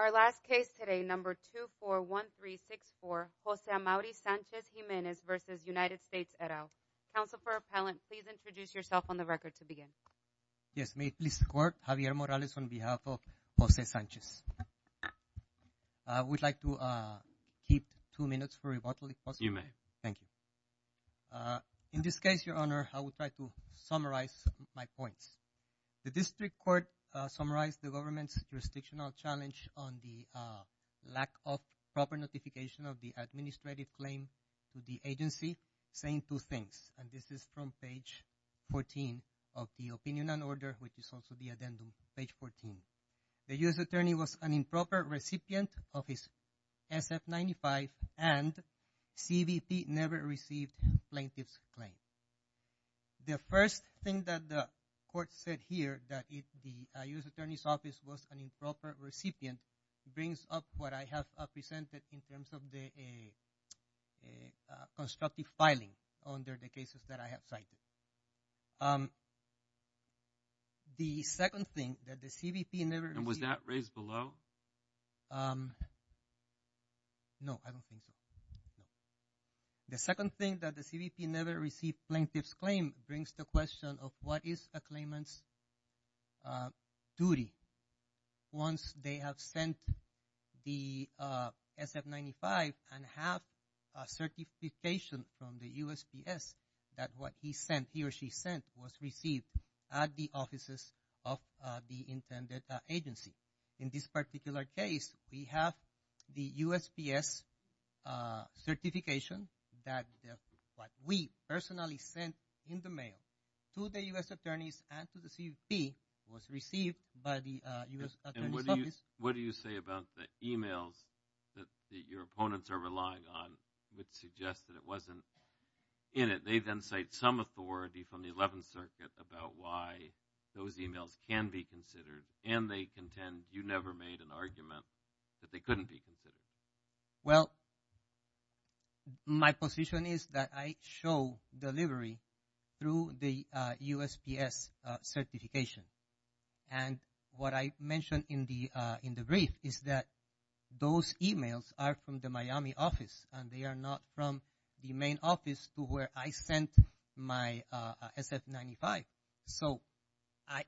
Our last case today, number 241364, Jose Amauri Sanchez-Jimenez v. United States et al. Counsel for Appellant, please introduce yourself on the record to begin. Yes, may it please the Court, Javier Morales on behalf of Jose Sanchez. I would like to keep two minutes for rebuttal if possible. You may. Thank you. In this case, Your Honor, I would like to summarize my points. The District Court summarized the government's jurisdictional challenge on the lack of proper notification of the administrative claim to the agency, saying two things. And this is from page 14 of the Opinion and Order, which is also the addendum, page 14. The U.S. Attorney was an improper recipient of his SF-95 and CBP never received plaintiff's claim. The first thing that the Court said here, that the U.S. Attorney's Office was an improper recipient, brings up what I have presented in terms of the constructive filing under the cases that I have cited. The second thing, that the CBP never received… And was that raised below? No, I don't think so. The second thing, that the CBP never received plaintiff's claim, brings the question of what is a claimant's duty once they have sent the SF-95 and have a certification from the USPS that what he sent, he or she sent, was received at the offices of the intended agency. In this particular case, we have the USPS certification that what we personally sent in the mail to the U.S. Attorneys and to the CBP was received by the U.S. Attorney's Office. And what do you say about the emails that your opponents are relying on, which suggest that it wasn't in it? They then cite some authority from the 11th Circuit about why those emails can be considered, and they contend you never made an argument that they couldn't be considered. Well, my position is that I show delivery through the USPS certification. And what I mentioned in the brief is that those emails are from the Miami office, and they are not from the main office to where I sent my SF-95. So, I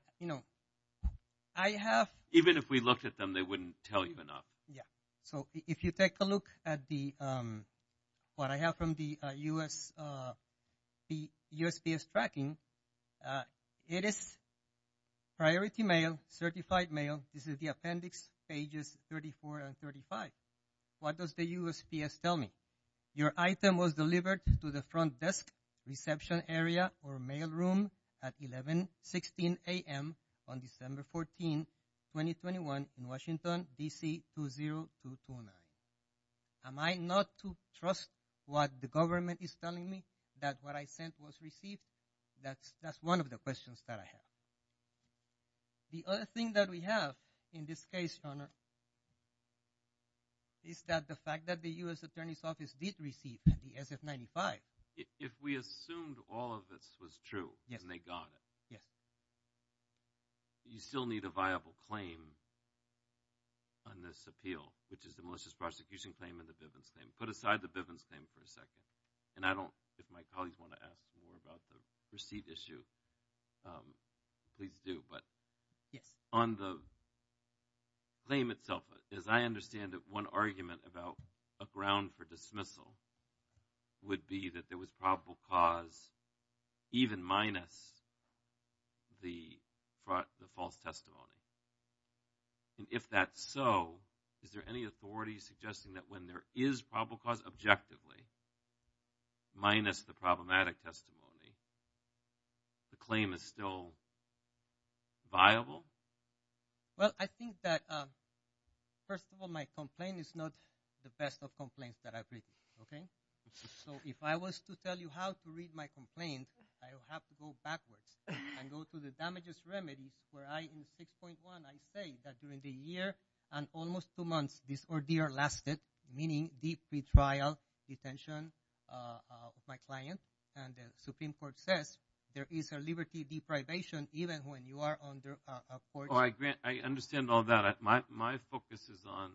have… Even if we looked at them, they wouldn't tell you enough. So, if you take a look at what I have from the USPS tracking, it is priority mail, certified mail. This is the appendix pages 34 and 35. What does the USPS tell me? Your item was delivered to the front desk reception area or mail room at 1116 a.m. on December 14, 2021 in Washington, D.C. 20229. Am I not to trust what the government is telling me that what I sent was received? That's one of the questions that I have. The other thing that we have in this case, Your Honor, is that the fact that the US attorney's office did receive the SF-95. If we assumed all of this was true and they got it, you still need a viable claim on this appeal, which is the malicious prosecution claim and the Bivens claim. Put aside the Bivens claim for a second. If my colleagues want to ask more about the receipt issue, please do. But on the claim itself, as I understand it, one argument about a ground for dismissal would be that there was probable cause even minus the false testimony. And if that's so, is there any authority suggesting that when there is probable cause objectively minus the problematic testimony, the claim is still viable? Well, I think that, first of all, my complaint is not the best of complaints that I've written. So if I was to tell you how to read my complaint, I would have to go backwards and go to the damages remedies where I, in 6.1, I say that during the year and almost two months, this ordeal lasted, meaning the pretrial detention of my client. And the Supreme Court says there is a liberty deprivation even when you are under a forgery. I understand all that. My focus is on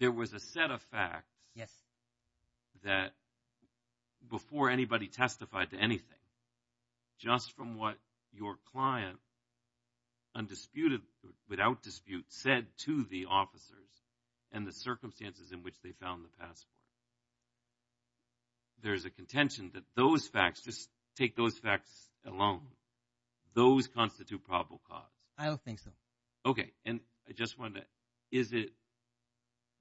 there was a set of facts that before anybody testified to anything, just from what your client undisputed, without dispute, said to the officers and the circumstances in which they found the passport. There is a contention that those facts, just take those facts alone, those constitute probable cause. I don't think so. Okay. And I just wonder, is it,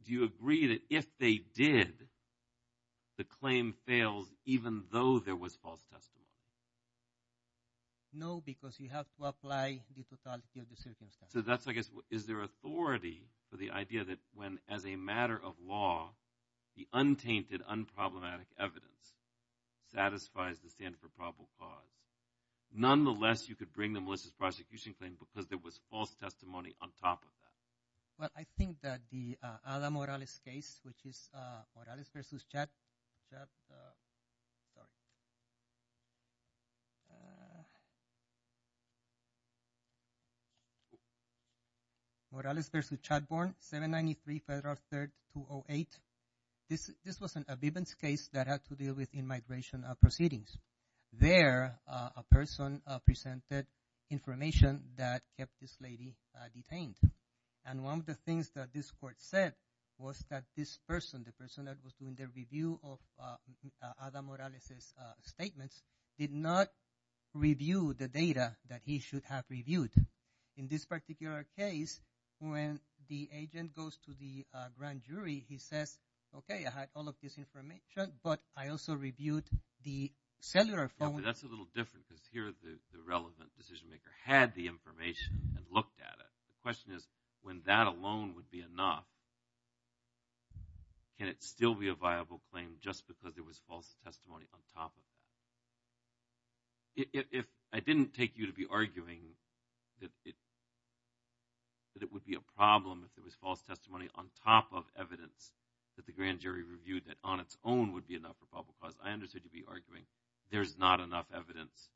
do you agree that if they did, the claim fails even though there was false testimony? No, because you have to apply the totality of the circumstances. So that's, I guess, is there authority for the idea that when, as a matter of law, the untainted, unproblematic evidence satisfies the standard for probable cause, nonetheless, you could bring the Melissa's prosecution claim because there was false testimony on top of that? Well, I think that the Ada Morales case, which is Morales v. Chadbourne, 793 Federal 3rd, 208. This was a Bibbins case that had to do with in-migration proceedings. There, a person presented information that kept this lady detained. And one of the things that this court said was that this person, the person that was doing the review of Ada Morales' statements, did not review the data that he should have reviewed. In this particular case, when the agent goes to the grand jury, he says, okay, I had all of this information, but I also reviewed the cellular phone. That's a little different because here the relevant decision maker had the information and looked at it. The question is, when that alone would be enough, can it still be a viable claim just because there was false testimony on top of that? If I didn't take you to be arguing that it would be a problem if there was false testimony on top of evidence that the grand jury reviewed that on its own would be enough for probable cause, I understood you'd be arguing there's not enough evidence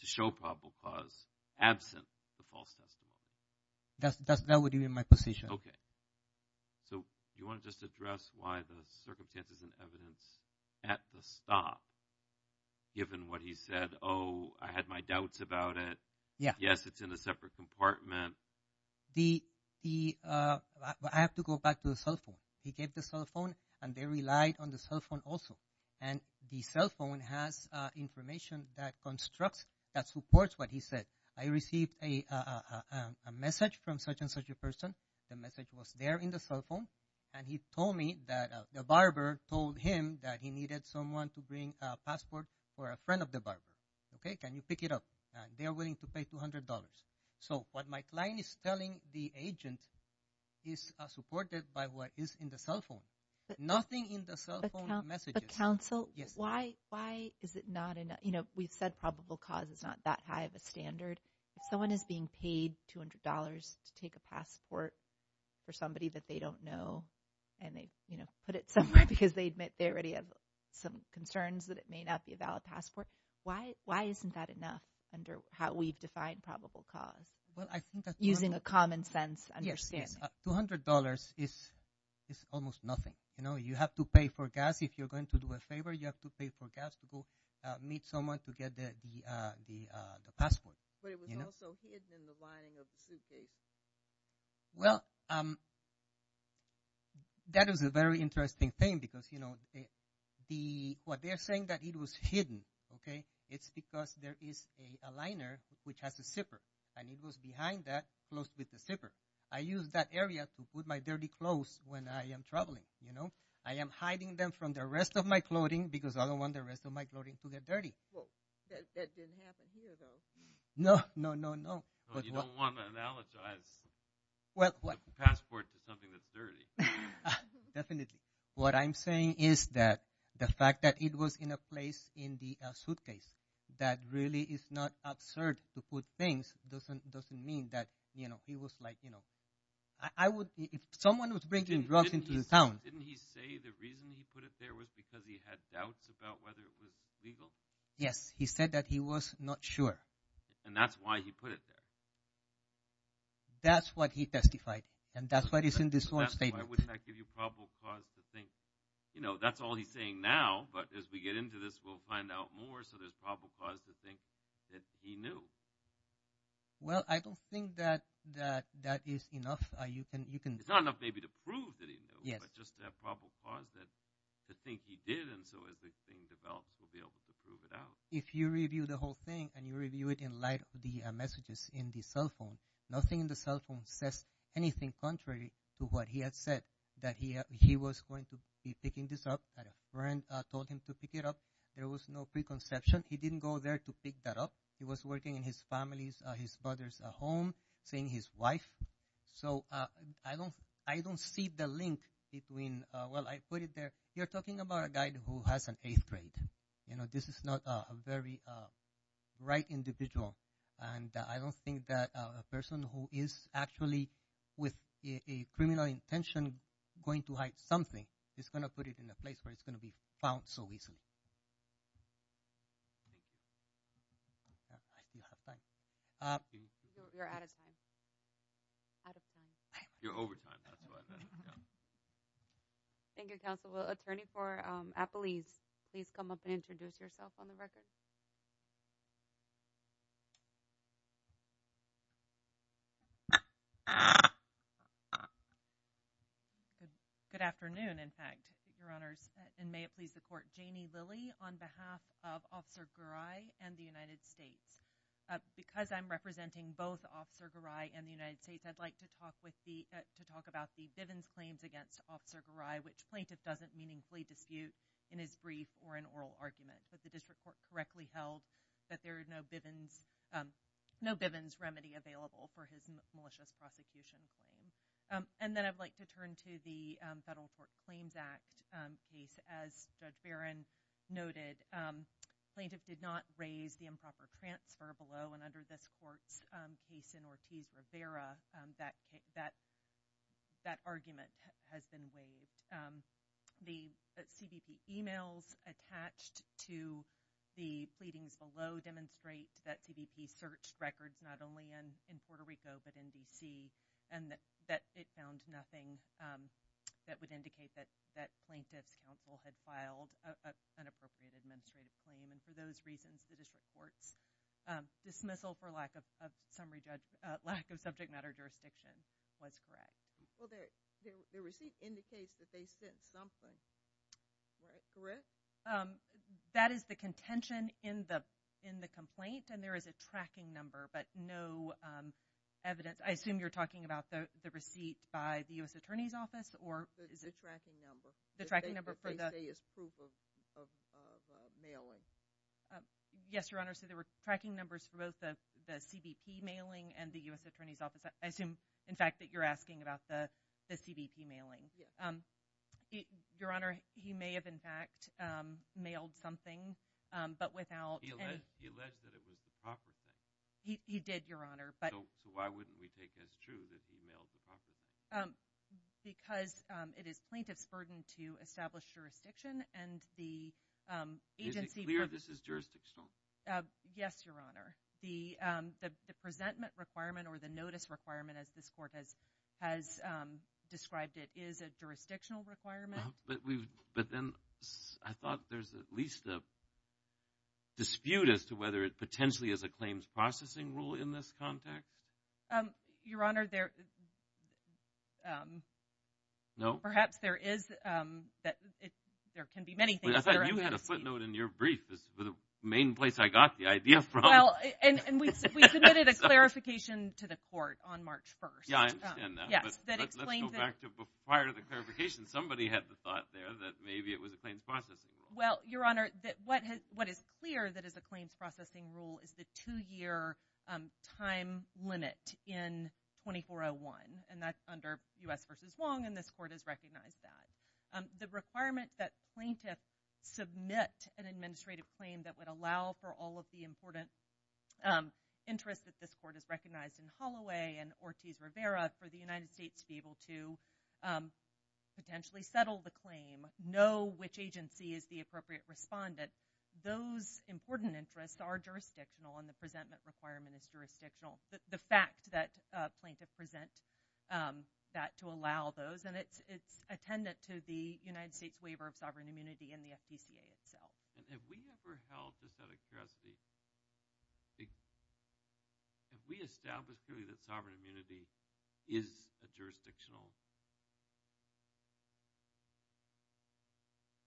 to show probable cause absent the false testimony. That would be my position. Okay. So you want to just address why the circumstances and evidence at the stop, given what he said, oh, I had my doubts about it. Yes, it's in a separate compartment. I have to go back to the cell phone. He gave the cell phone, and they relied on the cell phone also. And the cell phone has information that constructs, that supports what he said. I received a message from such and such a person. The message was there in the cell phone. And he told me that the barber told him that he needed someone to bring a passport for a friend of the barber. Okay, can you pick it up? They are willing to pay $200. So what my client is telling the agent is supported by what is in the cell phone. Nothing in the cell phone messages. Counsel, why is it not enough? We've said probable cause is not that high of a standard. If someone is being paid $200 to take a passport for somebody that they don't know, and they put it somewhere because they admit they already have some concerns that it may not be a valid passport, why isn't that enough under how we've defined probable cause using a common sense understanding? $200 is almost nothing. You know, you have to pay for gas if you're going to do a favor. You have to pay for gas to go meet someone to get the passport. But it was also hidden in the lining of the suitcase. Well, that is a very interesting thing because, you know, what they're saying that it was hidden, okay, it's because there is a liner which has a zipper, and it goes behind that, close with the zipper. I use that area to put my dirty clothes when I am traveling, you know. I am hiding them from the rest of my clothing because I don't want the rest of my clothing to get dirty. Well, that didn't happen here, though. No, no, no, no. You don't want to analogize a passport to something that's dirty. Definitely. What I'm saying is that the fact that it was in a place in the suitcase that really is not absurd to put things doesn't mean that, you know, he was like, you know, I would, if someone was bringing drugs into the town. Didn't he say the reason he put it there was because he had doubts about whether it was legal? Yes, he said that he was not sure. And that's why he put it there. That's what he testified, and that's what is in this one statement. That's why I would not give you probable cause to think, you know, that's all he's saying now, but as we get into this, we'll find out more. So there's probable cause to think that he knew. Well, I don't think that that is enough. It's not enough maybe to prove that he knew, but just to have probable cause to think he did. And so as the thing develops, we'll be able to prove it out. If you review the whole thing and you review it in light of the messages in the cell phone, nothing in the cell phone says anything contrary to what he had said, that he was going to be picking this up, that a friend told him to pick it up. There was no preconception. He didn't go there to pick that up. He was working in his family's, his father's home, seeing his wife. So I don't see the link between, well, I put it there. You're talking about a guy who has an eighth grade. You know, this is not a very right individual. And I don't think that a person who is actually with a criminal intention going to hide something is going to put it in a place where it's going to be found so easily. Do you have time? You're out of time. Out of time. You're over time. Thank you, Counsel. Well, Attorney for Apeliz, please come up and introduce yourself on the record. Good afternoon, in fact, Your Honors. And may it please the Court. Janie Lilly on behalf of Officer Garay and the United States. Because I'm representing both Officer Garay and the United States, I'd like to talk about the Bivens claims against Officer Garay, which plaintiff doesn't meaningfully dispute in his brief or in oral argument. But the District Court correctly held that there are no Bivens remedy available for his malicious prosecution claim. And then I'd like to turn to the Federal Court Claims Act case. As Judge Barron noted, plaintiff did not raise the improper transfer below and under this court's case in Ortiz-Rivera, that argument has been waived. The CBP emails attached to the pleadings below demonstrate that CBP searched records not only in Puerto Rico but in D.C. and that it found nothing that would indicate that plaintiff's counsel had filed an inappropriate administrative claim. And for those reasons, the District Court's dismissal for lack of subject matter jurisdiction was correct. Well, the receipt indicates that they sent something, correct? That is the contention in the complaint, and there is a tracking number but no evidence. I assume you're talking about the receipt by the U.S. Attorney's Office? The tracking number. They say it's proof of mailing. Yes, Your Honor, so there were tracking numbers for both the CBP mailing and the U.S. Attorney's Office. I assume, in fact, that you're asking about the CBP mailing. Yes. Your Honor, he may have, in fact, mailed something, but without any – He alleged that it was the proper thing. He did, Your Honor, but – So why wouldn't we take as true that he mailed the proper thing? Because it is plaintiff's burden to establish jurisdiction, and the agency – Is it clear this is jurisdictional? Yes, Your Honor. The presentment requirement or the notice requirement, as this Court has described it, is a jurisdictional requirement. But then I thought there's at least a dispute as to whether it potentially is a claims processing rule in this context. Your Honor, there – No. Perhaps there is – there can be many things. I thought you had a footnote in your brief as the main place I got the idea from. Well, and we submitted a clarification to the Court on March 1st. Yeah, I understand that. Yes. Let's go back to prior to the clarification. Somebody had the thought there that maybe it was a claims processing rule. Well, Your Honor, what is clear that is a claims processing rule is the two-year time limit in 2401. And that's under U.S. v. Wong, and this Court has recognized that. The requirements that plaintiffs submit an administrative claim that would allow for all of the important interests that this Court has recognized in Holloway and Ortiz-Rivera for the United States to be able to potentially settle the claim, know which agency is the appropriate respondent, those important interests are jurisdictional, and the presentment requirement is jurisdictional. The fact that plaintiff present that to allow those, and it's attendant to the United States waiver of sovereign immunity in the FPCA itself. And have we ever held this out of curiosity? Have we established, really, that sovereign immunity is a jurisdictional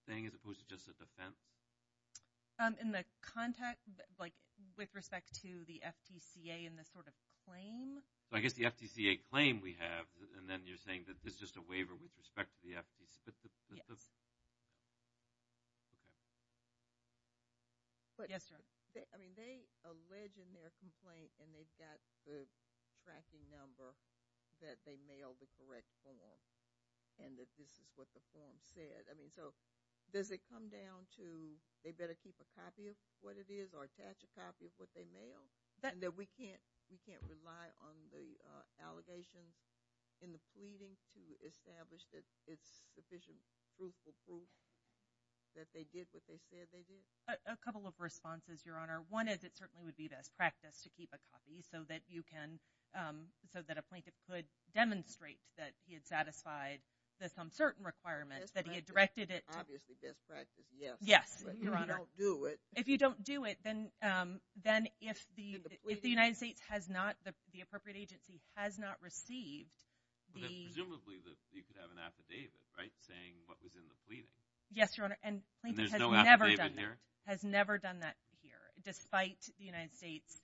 thing as opposed to just a defense? In the context, like, with respect to the FPCA and the sort of claim? I guess the FPCA claim we have, and then you're saying that it's just a waiver with respect to the FPCA? Okay. Yes, Your Honor. I mean, they allege in their complaint, and they've got the tracking number that they mail the correct form, and that this is what the form said. I mean, so does it come down to they better keep a copy of what it is or attach a copy of what they mail? And that we can't rely on the allegations in the pleading to establish that it's sufficient proof for proof that they did what they said they did? A couple of responses, Your Honor. One is it certainly would be best practice to keep a copy so that you can – so that a plaintiff could demonstrate that he had satisfied some certain requirements, that he had directed it to – Obviously, best practice, yes. Yes, Your Honor. If you don't do it. If you don't do it, then if the United States has not – the appropriate agency has not received the – Presumably, you could have an affidavit, right, saying what was in the pleading. Yes, Your Honor. And there's no affidavit here? And the plaintiff has never done that, has never done that here, despite the United States,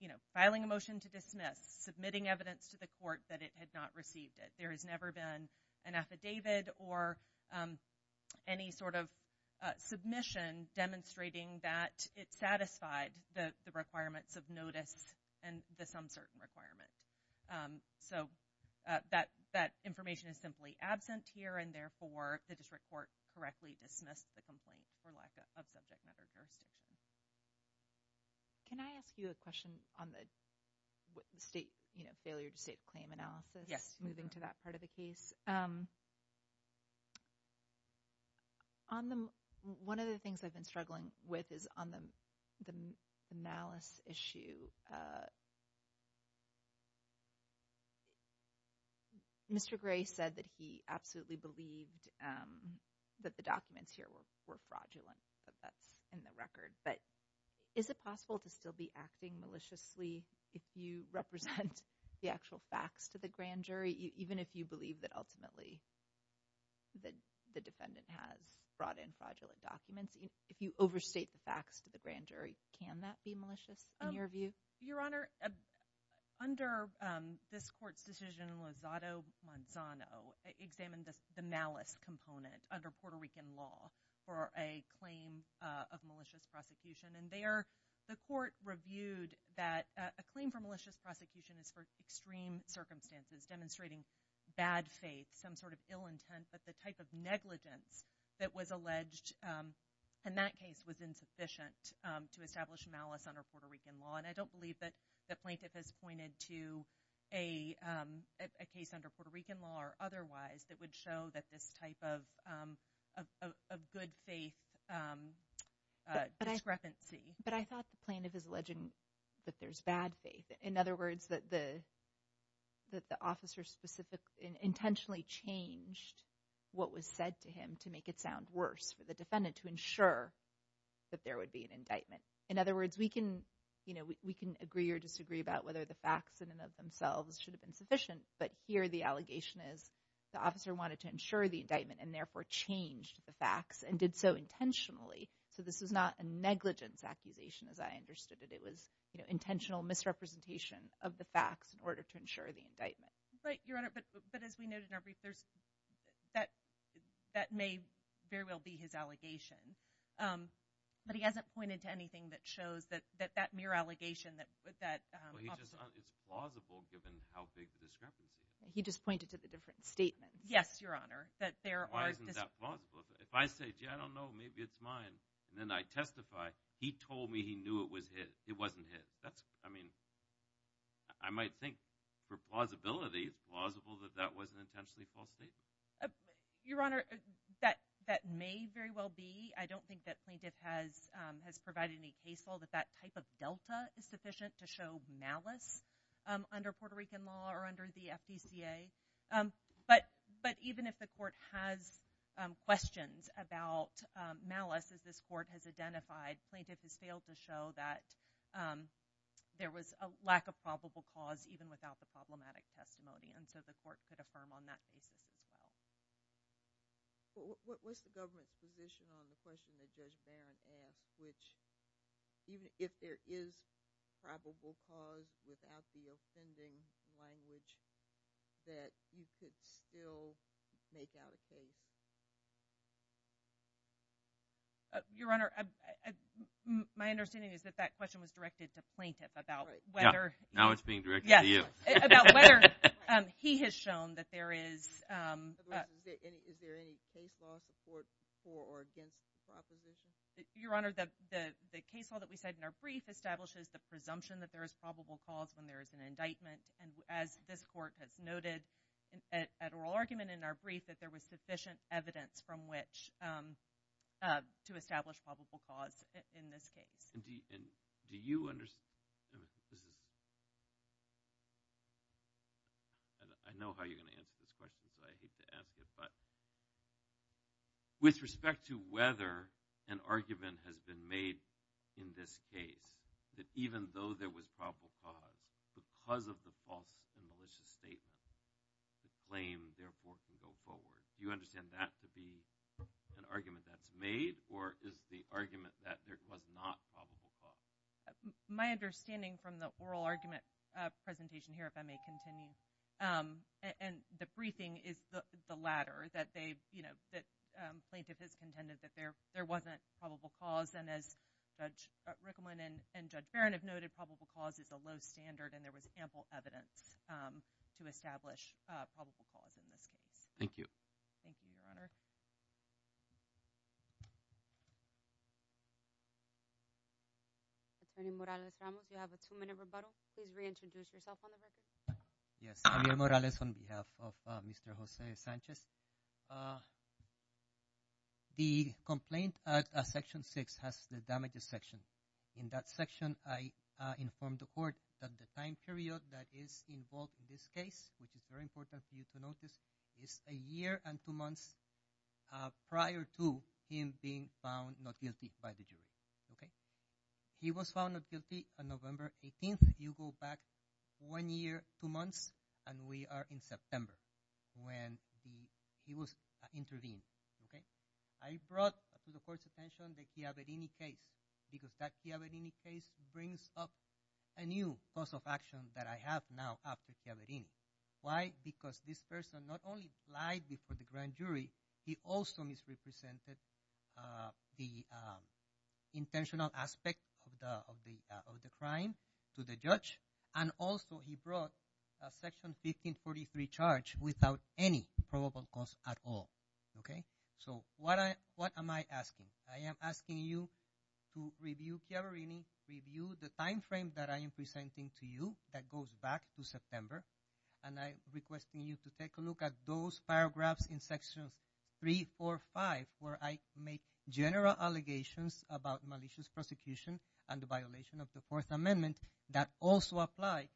you know, filing a motion to dismiss, submitting evidence to the court that it had not received it. There has never been an affidavit or any sort of submission demonstrating that it satisfied the requirements of notice and this uncertain requirement. So that information is simply absent here, and therefore, the district court correctly dismissed the complaint for lack of subject matter jurisdiction. Can I ask you a question on the state – you know, failure to state the claim analysis? Yes. Moving to that part of the case. One of the things I've been struggling with is on the malice issue. Mr. Gray said that he absolutely believed that the documents here were fraudulent, that that's in the record. But is it possible to still be acting maliciously if you represent the actual facts to the grand jury, even if you believe that ultimately the defendant has brought in fraudulent documents? If you overstate the facts to the grand jury, can that be malicious in your view? Your Honor, under this court's decision, Lozado Manzano examined the malice component under Puerto Rican law for a claim of malicious prosecution. And there, the court reviewed that a claim for malicious prosecution is for extreme circumstances, demonstrating bad faith, some sort of ill intent, but the type of negligence that was alleged in that case was insufficient to establish malice under Puerto Rican law. And I don't believe that the plaintiff has pointed to a case under Puerto Rican law or otherwise that would show that this type of good faith discrepancy. But I thought the plaintiff is alleging that there's bad faith. In other words, that the officer intentionally changed what was said to him to make it sound worse for the defendant to ensure that there would be an indictment. In other words, we can agree or disagree about whether the facts in and of themselves should have been sufficient, but here the allegation is the officer wanted to ensure the indictment and therefore changed the facts and did so intentionally. So this was not a negligence accusation as I understood it. It was intentional misrepresentation of the facts in order to ensure the indictment. But, Your Honor, but as we noted in our brief, that may very well be his allegation. But he hasn't pointed to anything that shows that that mere allegation that – Well, he just – it's plausible given how big the discrepancy is. He just pointed to the different statements. Yes, Your Honor, that there are – Why isn't that plausible? If I say, gee, I don't know, maybe it's mine, and then I testify, he told me he knew it was his. It wasn't his. That's – I mean, I might think for plausibility, plausible that that was an intentionally false statement. Your Honor, that may very well be. I don't think that plaintiff has provided any case law that that type of delta is sufficient to show malice under Puerto Rican law or under the FDCA. But even if the court has questions about malice, as this court has identified, plaintiff has failed to show that there was a lack of probable cause even without the problematic testimony. And so the court could affirm on that basis as well. What's the government's position on the question that Judge Barron asked, which even if there is probable cause without the offending language, that you could still make out a case? Your Honor, my understanding is that that question was directed to plaintiff about whether – Now it's being directed to you. Yes, about whether he has shown that there is – Is there any case law support for or against the proposition? Your Honor, the case law that we said in our brief establishes the presumption that there is probable cause when there is an indictment. And as this court has noted at oral argument in our brief, that there was sufficient evidence from which to establish probable cause in this case. And do you – I know how you're going to answer this question because I hate to ask it. But with respect to whether an argument has been made in this case that even though there was probable cause, because of the false and malicious statement, the claim therefore can go forward. Do you understand that to be an argument that's made or is the argument that there was not probable cause? My understanding from the oral argument presentation here, if I may continue, and the briefing is the latter, that plaintiff has contended that there wasn't probable cause. And as Judge Rickleman and Judge Barron have noted, probable cause is a low standard, and there was ample evidence to establish probable cause in this case. Thank you. Thank you, Your Honor. Attorney Morales-Ramos, you have a two-minute rebuttal. Please reintroduce yourself on the record. Yes. I'm Javier Morales on behalf of Mr. Jose Sanchez. The complaint at Section 6 has the damages section. In that section, I informed the court that the time period that is involved in this case, which is very important for you to notice, is a year and two months prior to him being found not guilty by the jury. Okay? He was found not guilty on November 18th. You go back one year, two months, and we are in September when he was intervened. Okay? I brought to the court's attention the Chiaverini case because that Chiaverini case brings up a new cause of action that I have now after Chiaverini. Why? Because this person not only lied before the grand jury, he also misrepresented the intentional aspect of the crime to the judge, and also he brought a Section 1543 charge without any probable cause at all. Okay? So what am I asking? I am asking you to review Chiaverini, review the time frame that I am presenting to you that goes back to September, and I am requesting you to take a look at those paragraphs in Sections 3, 4, 5, where I make general allegations about malicious prosecution and the violation of the Fourth Amendment that also apply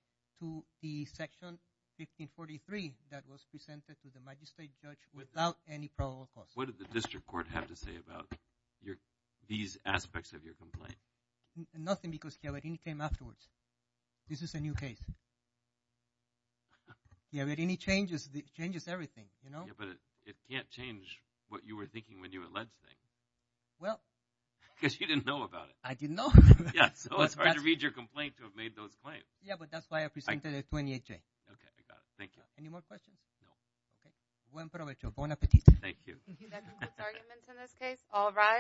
to the Section 1543 that was presented to the magistrate judge without any probable cause. What did the district court have to say about these aspects of your complaint? Nothing because Chiaverini came afterwards. This is a new case. Chiaverini changes everything, you know? Yeah, but it can't change what you were thinking when you alleged things. Well. Because you didn't know about it. I didn't know. Yeah. So it's hard to read your complaint to have made those claims. Yeah, but that's why I presented it to NHA. Okay, I got it. Thank you. Any more questions? No. Okay. Buen provecho. Bon appetit. Thank you. That concludes arguments in this case. All rise.